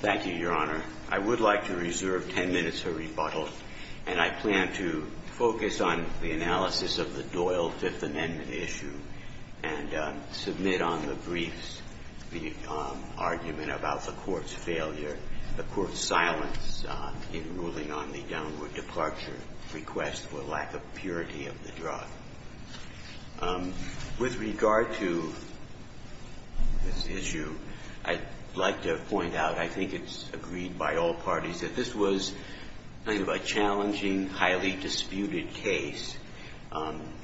Thank you, Your Honor. I would like to reserve ten minutes for rebuttal, and I plan to focus on the analysis of the Doyle Fifth Amendment issue and submit on the briefs the argument about the Court's failure, the Court's silence in ruling on the downward departure request for lack of purity of the drug. With regard to this issue, I'd like to point out, I think it's agreed by all parties, that this was kind of a challenging, highly disputed case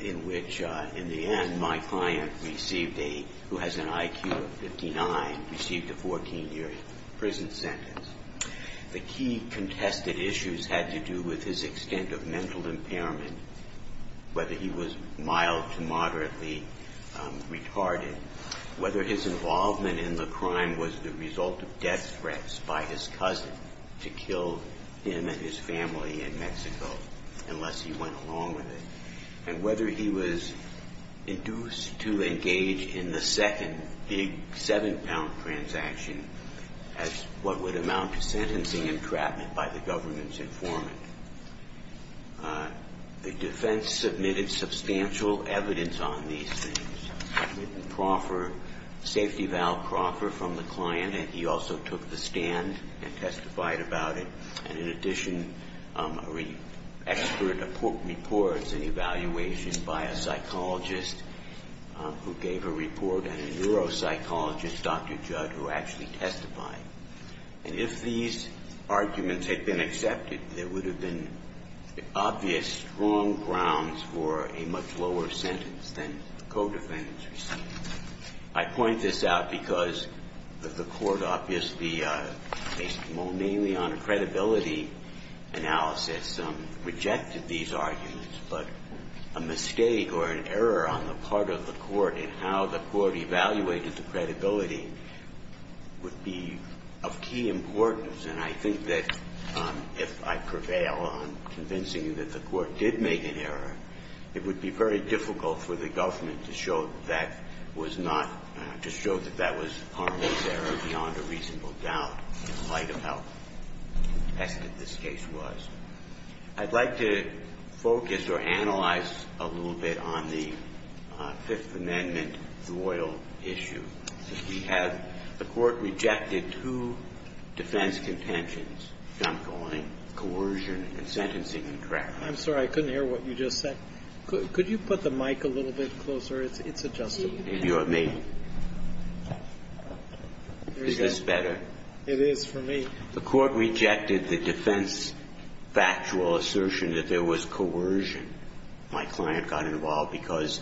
in which, in the end, my client received a, who has an IQ of 59, received a 14-year prison sentence. The key contested issues had to do with his extent of mental impairment, whether he was mild to moderately retarded, whether his involvement in the crime was the result of death threats by his cousin to kill him and his family in Mexico, unless he went along with it, and whether he was induced to engage in the second big seven-pound transaction as what would amount to sentencing entrapment by the government's informant. The defense submitted substantial evidence on these things. I've written Crawford, Safety Val Crawford, from the client, and he also took the stand and testified about it. And in addition, an expert reports an evaluation by a psychologist who gave a report and a neuropsychologist, Dr. Judd, who actually testified. And if these arguments had been accepted, there would have been obvious strong grounds for a much lower sentence than the co-defendants received. I point this out because the Court obviously, based mainly on a credibility analysis, rejected these arguments. But a mistake or an error on the part of the Court in how the Court evaluated the credibility would be of key importance. And I think that if I prevail on convincing you that the Court did make an error, it would be very difficult for the government to show that was not, to show that that was Harmon's error beyond a reasonable doubt in light of how contested this case was. I'd like to focus or analyze a little bit on the Fifth Amendment loyal issue. We have the Court rejected two defense contentions, jump going, coercion, and sentencing contract. I'm sorry. I couldn't hear what you just said. Could you put the mic a little bit closer? It's adjustable. Maybe you want me. Is this better? It is for me. The Court rejected the defense factual assertion that there was coercion. My client got involved because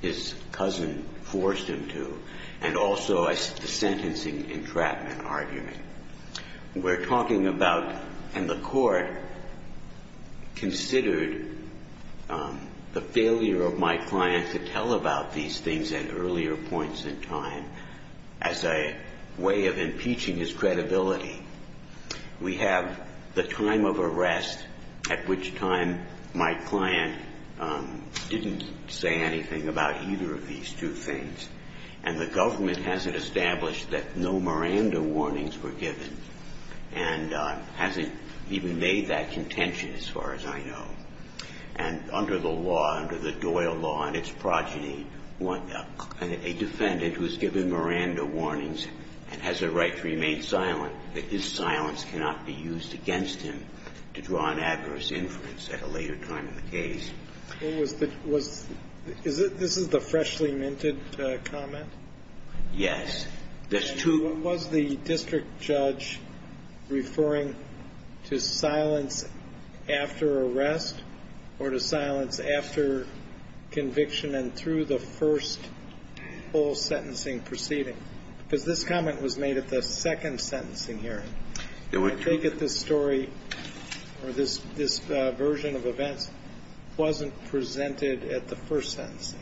his cousin forced him to, and also the sentencing entrapment argument. We're talking about, and the Court considered the failure of my client to tell about these things at earlier points in time as a way of impeaching his credibility. We have the time of arrest at which time my client didn't say anything about either of these two things. And the government hasn't established that no Miranda warnings were given and hasn't even made that contention as far as I know. And under the law, under the Doyle law and its progeny, a defendant who has given Miranda warnings and has a right to remain silent, that his silence cannot be used against him to draw an adverse inference at a later time in the case. This is the freshly minted comment? Yes. What was the district judge referring to silence after arrest or to silence after conviction and through the first whole sentencing proceeding? Because this comment was made at the second sentencing hearing. I take it this story or this version of events wasn't presented at the first sentencing.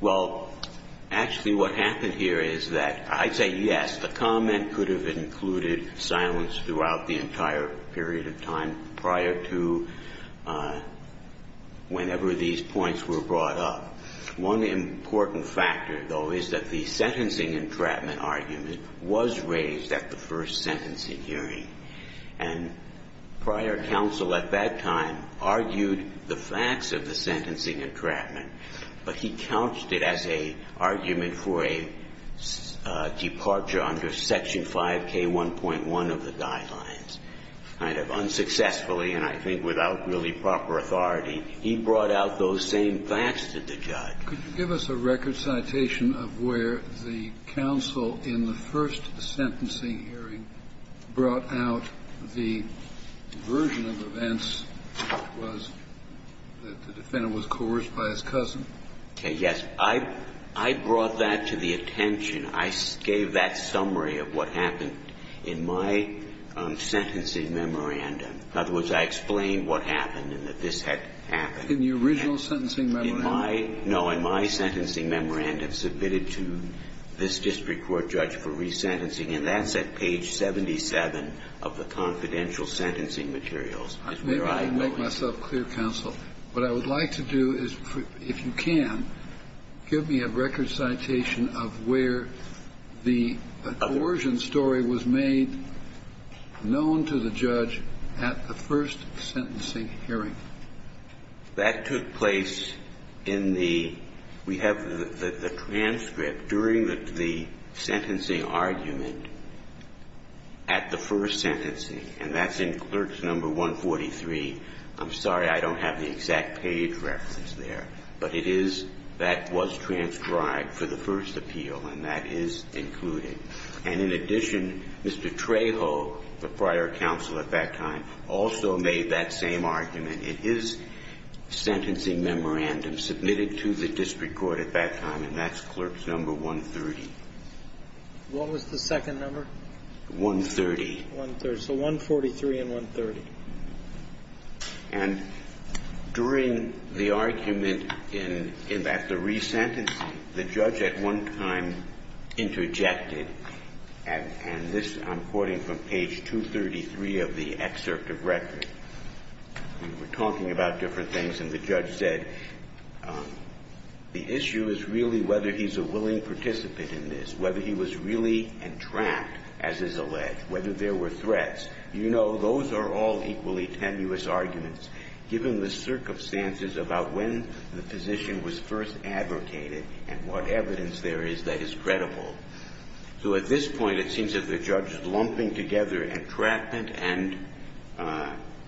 Well, actually what happened here is that I'd say yes, the comment could have included silence throughout the entire period of time prior to whenever these points were brought up. One important factor, though, is that the sentencing entrapment argument was raised at the first sentencing hearing. And prior counsel at that time argued the facts of the sentencing entrapment, but he couched it as an argument for a departure under Section 5K1.1 of the guidelines kind of unsuccessfully and I think without really proper authority. He brought out those same facts to the judge. Could you give us a record citation of where the counsel in the first sentencing hearing brought out the version of events that the defendant was coerced by his cousin? Yes. I brought that to the attention. I gave that summary of what happened in my sentencing memorandum. In other words, I explained what happened and that this had happened. In your original sentencing memorandum? No, in my sentencing memorandum submitted to this district court judge for resentencing and that's at page 77 of the confidential sentencing materials. I may be able to make myself clear, counsel. What I would like to do is, if you can, give me a record citation of where the coercion story was made known to the judge at the first sentencing hearing. That took place in the we have the transcript during the sentencing argument at the first sentencing and that's in clerks number 143. I'm sorry I don't have the exact page reference there, but it is that was transcribed for the first appeal and that is included. And in addition, Mr. Trejo, the prior counsel at that time, also made that same argument in his sentencing memorandum submitted to the district court at that time and that's clerks number 130. What was the second number? 130. So 143 and 130. And during the argument at the resentencing, the judge at one time interjected and this I'm quoting from page 233 of the excerpt of record. We were talking about different things and the judge said the issue is really whether he's a willing participant in this, whether he was really entrapped as is alleged, whether there were threats. You know, those are all equally tenuous arguments given the circumstances about when the physician was first advocated and what evidence there is that is At this point, it seems that the judge is lumping together entrapment and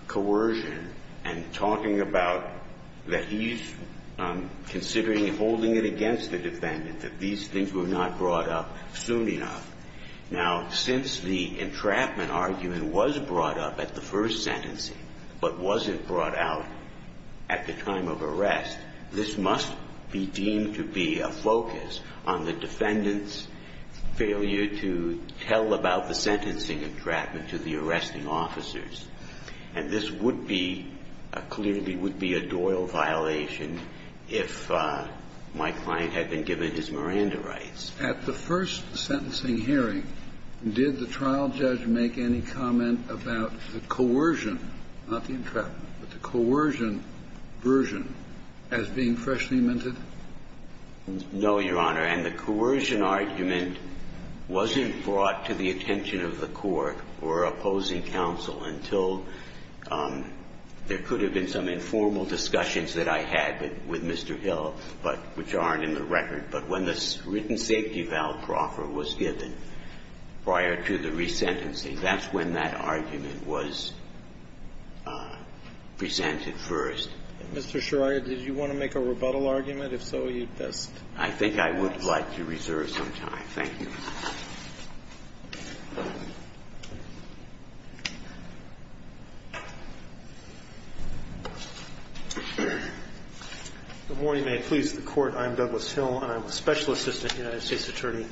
coercion and talking about that he's considering holding it against the defendant, that these things were not brought up soon enough. Now, since the entrapment argument was brought up at the first sentencing but wasn't brought out at the time of arrest, this must be deemed to be a focus on the defendant's failure to tell about the sentencing entrapment to the arresting officers. And this would be, clearly would be a Doyle violation if my client had been given his Miranda rights. At the first sentencing hearing, did the trial judge make any comment about the coercion, not the entrapment, but the coercion version as being freshly minted? No, Your Honor. And the coercion argument wasn't brought to the attention of the court or opposing counsel until there could have been some informal discussions that I had with Mr. Hill, but which aren't in the record. But when the written safety valve proffer was given prior to the resentencing, that's when that argument was presented first. Mr. Sharia, did you want to make a rebuttal argument? If so, you'd best. I think I would like to reserve some time. Thank you. Good morning. May it please the Court. I'm Douglas Hill, and I'm a Special Assistant United States Attorney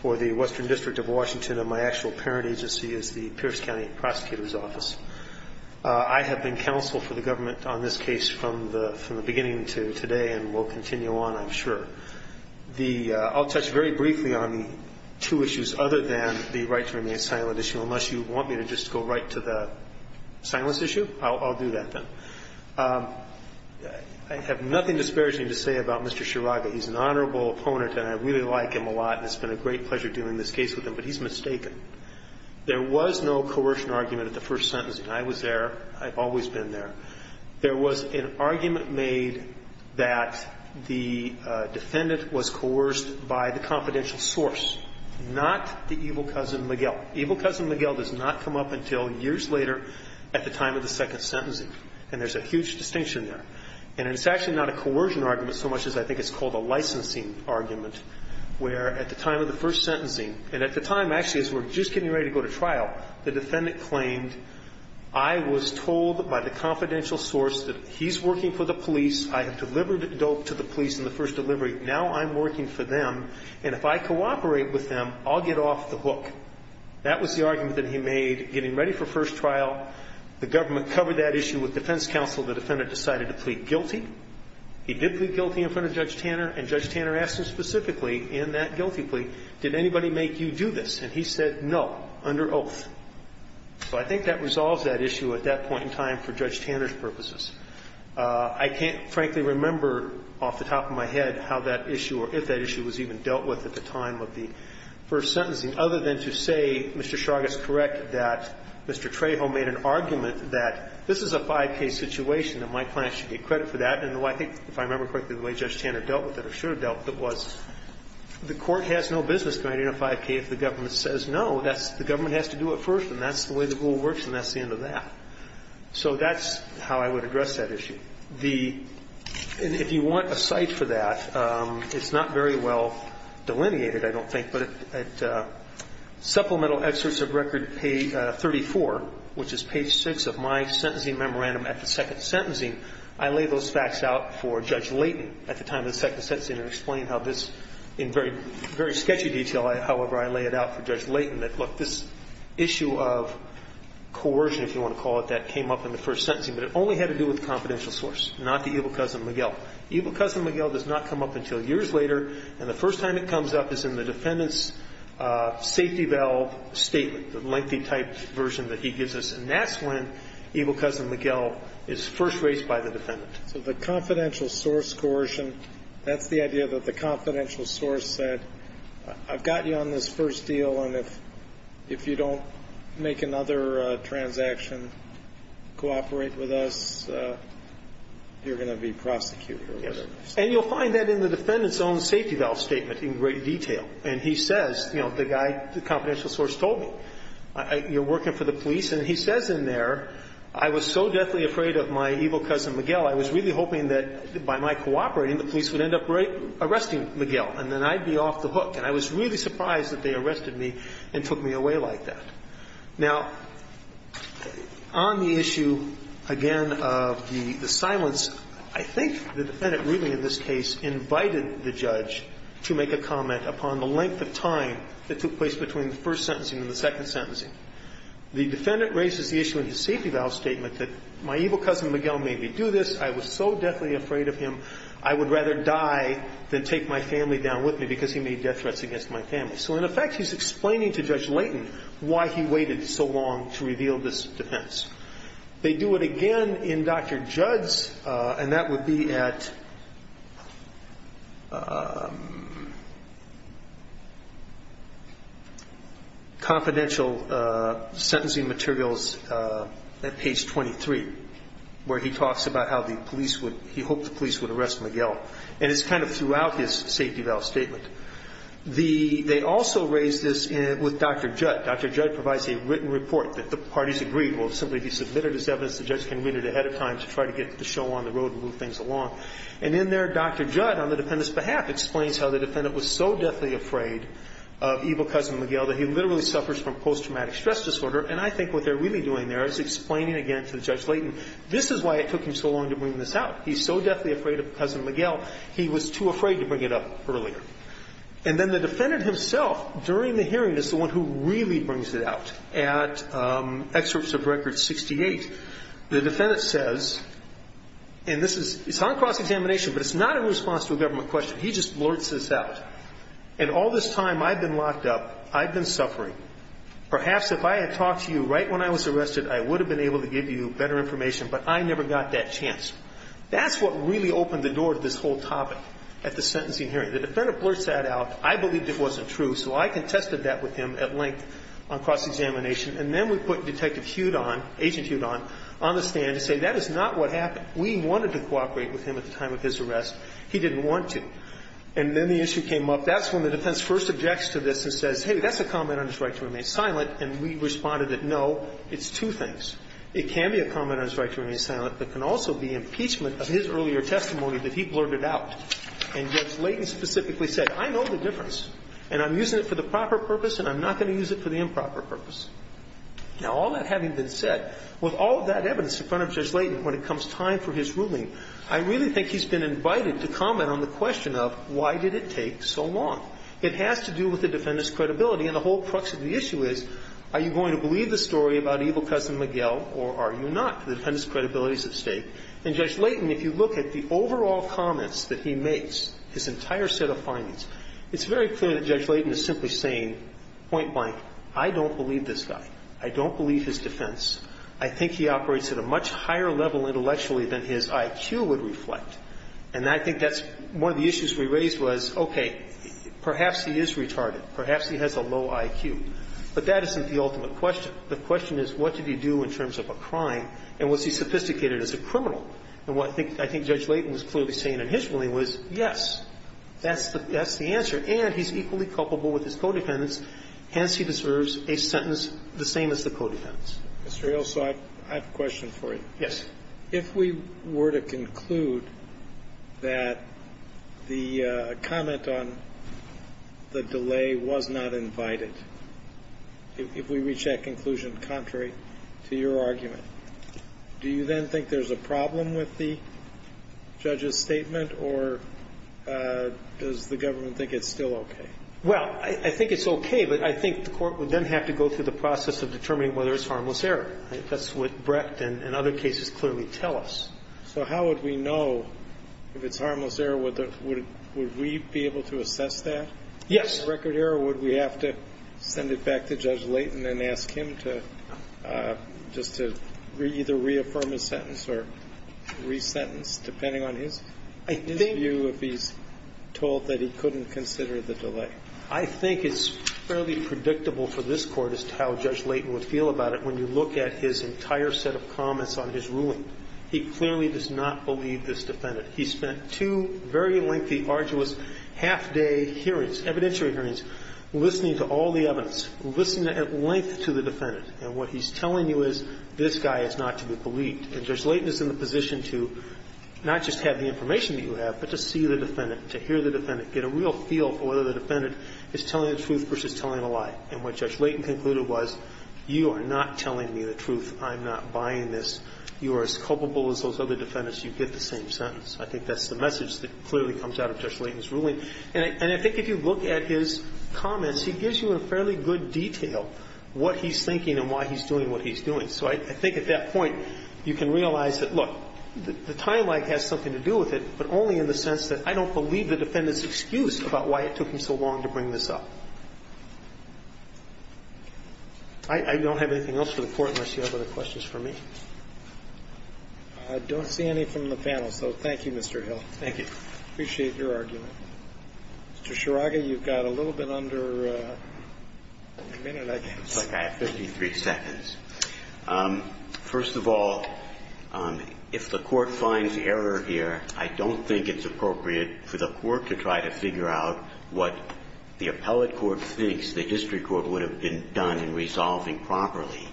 for the Western District of Washington, and my actual parent agency is the Pierce County Prosecutor's Office. I have been counsel for the government on this case from the beginning to today and will continue on, I'm sure. I'll touch very briefly on the two issues other than the right to remain silent issue, unless you want me to just go right to the silence issue. I'll do that, then. I have nothing disparaging to say about Mr. Shiraga. He's an honorable opponent, and I really like him a lot, and it's been a great pleasure doing this case with him, but he's mistaken. There was no coercion argument at the first sentencing. I was there. I've always been there. There was an argument made that the defendant was coerced by the confidential source, not the evil cousin Miguel. Evil cousin Miguel does not come up until years later at the time of the second sentencing, and there's a huge distinction there. And it's actually not a coercion argument so much as I think it's called a licensing argument, where at the time of the first sentencing, and at the time, actually, as we're just getting ready to go to trial, the defendant claimed, I was told by the confidential source that he's working for the police. I have delivered dope to the police in the first delivery. Now I'm working for them, and if I cooperate with them, I'll get off the hook. That was the argument that he made getting ready for first trial. The government covered that issue with defense counsel. The defendant decided to plead guilty. He did plead guilty in front of Judge Tanner, and Judge Tanner asked him specifically in that guilty plea, did anybody make you do this? And he said, no, under oath. So I think that resolves that issue at that point in time for Judge Tanner's purposes. I can't frankly remember off the top of my head how that issue or if that issue was even dealt with at the time of the first sentencing, other than to say, Mr. Chagas, correct, that Mr. Trejo made an argument that this is a 5K situation and my client should get credit for that. And I think, if I remember correctly, the way Judge Tanner dealt with it or should have dealt with it was the Court has no business providing a 5K if the government says no. The government has to do it first, and that's the way the rule works, and that's the end of that. So that's how I would address that issue. The – and if you want a cite for that, it's not very well delineated, I don't think, but at Supplemental Excerpts of Record 34, which is page 6 of my sentencing memorandum at the second sentencing, I lay those facts out for Judge Layton at the time of the second sentencing and explain how this – in very sketchy detail, however, I lay it out for Judge Layton that, look, this issue of coercion, if you want to call it that, came up in the first sentencing, but it only had to do with the confidential source, not the evil cousin Miguel. Evil cousin Miguel does not come up until years later, and the first time it comes up is in the defendant's safety valve statement, the lengthy type version that he gives us, and that's when evil cousin Miguel is first raised by the defendant. So the confidential source coercion, that's the idea that the confidential source said, I've got you on this first deal, and if you don't make another transaction, cooperate with us, you're going to be prosecuted. Yes. And you'll find that in the defendant's own safety valve statement in great detail. And he says, you know, the guy – the confidential source told me, you're working for the police, and he says in there, I was so deathly afraid of my evil cousin Miguel, I was really hoping that by my cooperating, the police would end up arresting Miguel, and then I'd be off the hook. And I was really surprised that they arrested me and took me away like that. Now, on the issue, again, of the silence, I think the defendant really in this case invited the judge to make a comment upon the length of time that took place between the first sentencing and the second sentencing. The defendant raises the issue in his safety valve statement that my evil cousin Miguel made me do this, I was so deathly afraid of him, I would rather die than take my family down with me because he made death threats against my family. So, in effect, he's explaining to Judge Layton why he waited so long to reveal this defense. They do it again in Dr. Judd's, and that would be at confidential sentencing materials at page 23, where he talks about how the police would – he hoped the judge would read his safety valve statement. They also raise this with Dr. Judd. Dr. Judd provides a written report that the parties agreed will simply be submitted as evidence. The judge can read it ahead of time to try to get the show on the road and move things along. And in there, Dr. Judd, on the defendant's behalf, explains how the defendant was so deathly afraid of evil cousin Miguel that he literally suffers from post-traumatic stress disorder, and I think what they're really doing there is explaining again to Judge Layton, this is why it took him so long to bring this out. He's so deathly afraid of cousin Miguel, he was too afraid to bring it up earlier. And then the defendant himself, during the hearing, is the one who really brings it out. At excerpts of record 68, the defendant says, and this is – it's on cross examination, but it's not in response to a government question. He just blurts this out. And all this time I've been locked up, I've been suffering. Perhaps if I had talked to you right when I was arrested, I would have been able to give you better information, but I never got that chance. That's what really opened the door to this whole topic at the sentencing hearing. The defendant blurts that out. I believed it wasn't true, so I contested that with him at length on cross examination. And then we put Detective Hudon, Agent Hudon, on the stand to say that is not what happened. We wanted to cooperate with him at the time of his arrest. He didn't want to. And then the issue came up. That's when the defense first objects to this and says, hey, that's a comment on his right to remain silent, and we responded that, no, it's two things. It can be a comment on his right to remain silent, but can also be impeachment of his earlier testimony that he blurted out. And Judge Layton specifically said, I know the difference, and I'm using it for the proper purpose, and I'm not going to use it for the improper purpose. Now, all that having been said, with all of that evidence in front of Judge Layton when it comes time for his ruling, I really think he's been invited to comment on the question of why did it take so long. It has to do with the defendant's credibility, and the whole crux of the issue is, are you going to believe the story about evil cousin Miguel, or are you not, the defendant's credibility is at stake. And Judge Layton, if you look at the overall comments that he makes, his entire set of findings, it's very clear that Judge Layton is simply saying, point blank, I don't believe this guy. I don't believe his defense. I think he operates at a much higher level intellectually than his IQ would reflect. And I think that's one of the issues we raised was, okay, perhaps he is retarded. Perhaps he has a low IQ. But that isn't the ultimate question. The question is, what did he do in terms of a crime, and was he sophisticated as a criminal? And what I think Judge Layton was clearly saying in his ruling was, yes, that's the answer. And he's equally culpable with his co-defendants. Hence, he deserves a sentence the same as the co-defendants. Mr. Hill, so I have a question for you. Yes. If we were to conclude that the comment on the delay was not invited, if we reach that conclusion contrary to your argument, do you then think there's a problem with the judge's statement, or does the government think it's still okay? Well, I think it's okay. But I think the Court would then have to go through the process of determining whether it's harmless error. That's what Brecht and other cases clearly tell us. So how would we know if it's harmless error? Would we be able to assess that? Yes. If it's record error, would we have to send it back to Judge Layton and ask him to just to either reaffirm his sentence or re-sentence, depending on his view, if he's told that he couldn't consider the delay? I think it's fairly predictable for this Court as to how Judge Layton would feel about it when you look at his entire set of comments on his ruling. He clearly does not believe this defendant. He spent two very lengthy, arduous half-day hearings, evidentiary hearings, listening to all the evidence, listening at length to the defendant. And what he's telling you is this guy is not to be believed. And Judge Layton is in the position to not just have the information that you have, but to see the defendant, to hear the defendant, get a real feel for whether the defendant is telling the truth versus telling a lie. And what Judge Layton concluded was, you are not telling me the truth. I'm not buying this. You are as culpable as those other defendants. You get the same sentence. I think that's the message that clearly comes out of Judge Layton's ruling. And I think if you look at his comments, he gives you in fairly good detail what he's thinking and why he's doing what he's doing. So I think at that point you can realize that, look, the time lag has something to do with it, but only in the sense that I don't believe the defendant's excuse about why it took him so long to bring this up. I don't have anything else for the Court unless you have other questions for me. I don't see any from the panel, so thank you, Mr. Hill. Thank you. I appreciate your argument. Mr. Sharaga, you've got a little bit under a minute. It looks like I have 53 seconds. First of all, if the Court finds error here, I don't think it's appropriate for the Court to try to figure out what the appellate court thinks the district court would have been done in resolving properly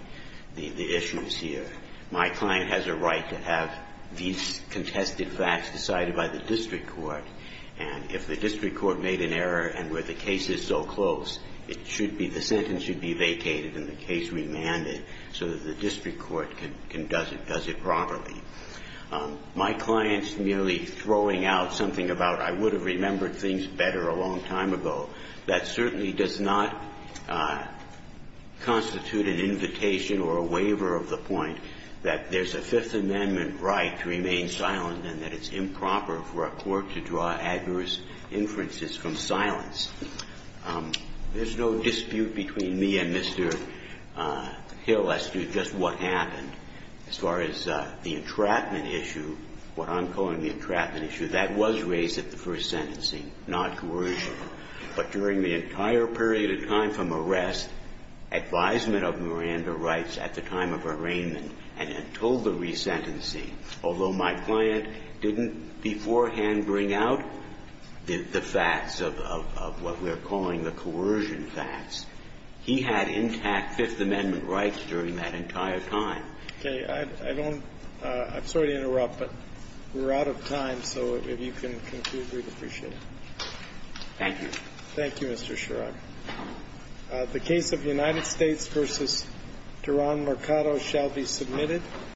the issues here. My client has a right to have these contested facts decided by the district court. And if the district court made an error and where the case is so close, it should be the sentence should be vacated and the case remanded so that the district court can does it properly. My client's merely throwing out something about, I would have remembered things better a long time ago. That certainly does not constitute an invitation or a waiver of the point that there's a Fifth Amendment right to remain silent and that it's improper for a court to draw adverse inferences from silence. There's no dispute between me and Mr. Hill as to just what happened as far as the entrapment issue, what I'm calling the entrapment issue. That was raised at the first sentencing, not coercion. But during the entire period of time from arrest, advisement of Miranda writes at the time of arraignment and had told the resentencing, although my client didn't beforehand bring out the facts of what we're calling the coercion facts. He had intact Fifth Amendment rights during that entire time. Okay. I don't – I'm sorry to interrupt, but we're out of time, so if you can conclude, we'd appreciate it. Thank you. Thank you, Mr. Sherrod. The case of United States v. Duran Mercado shall be submitted.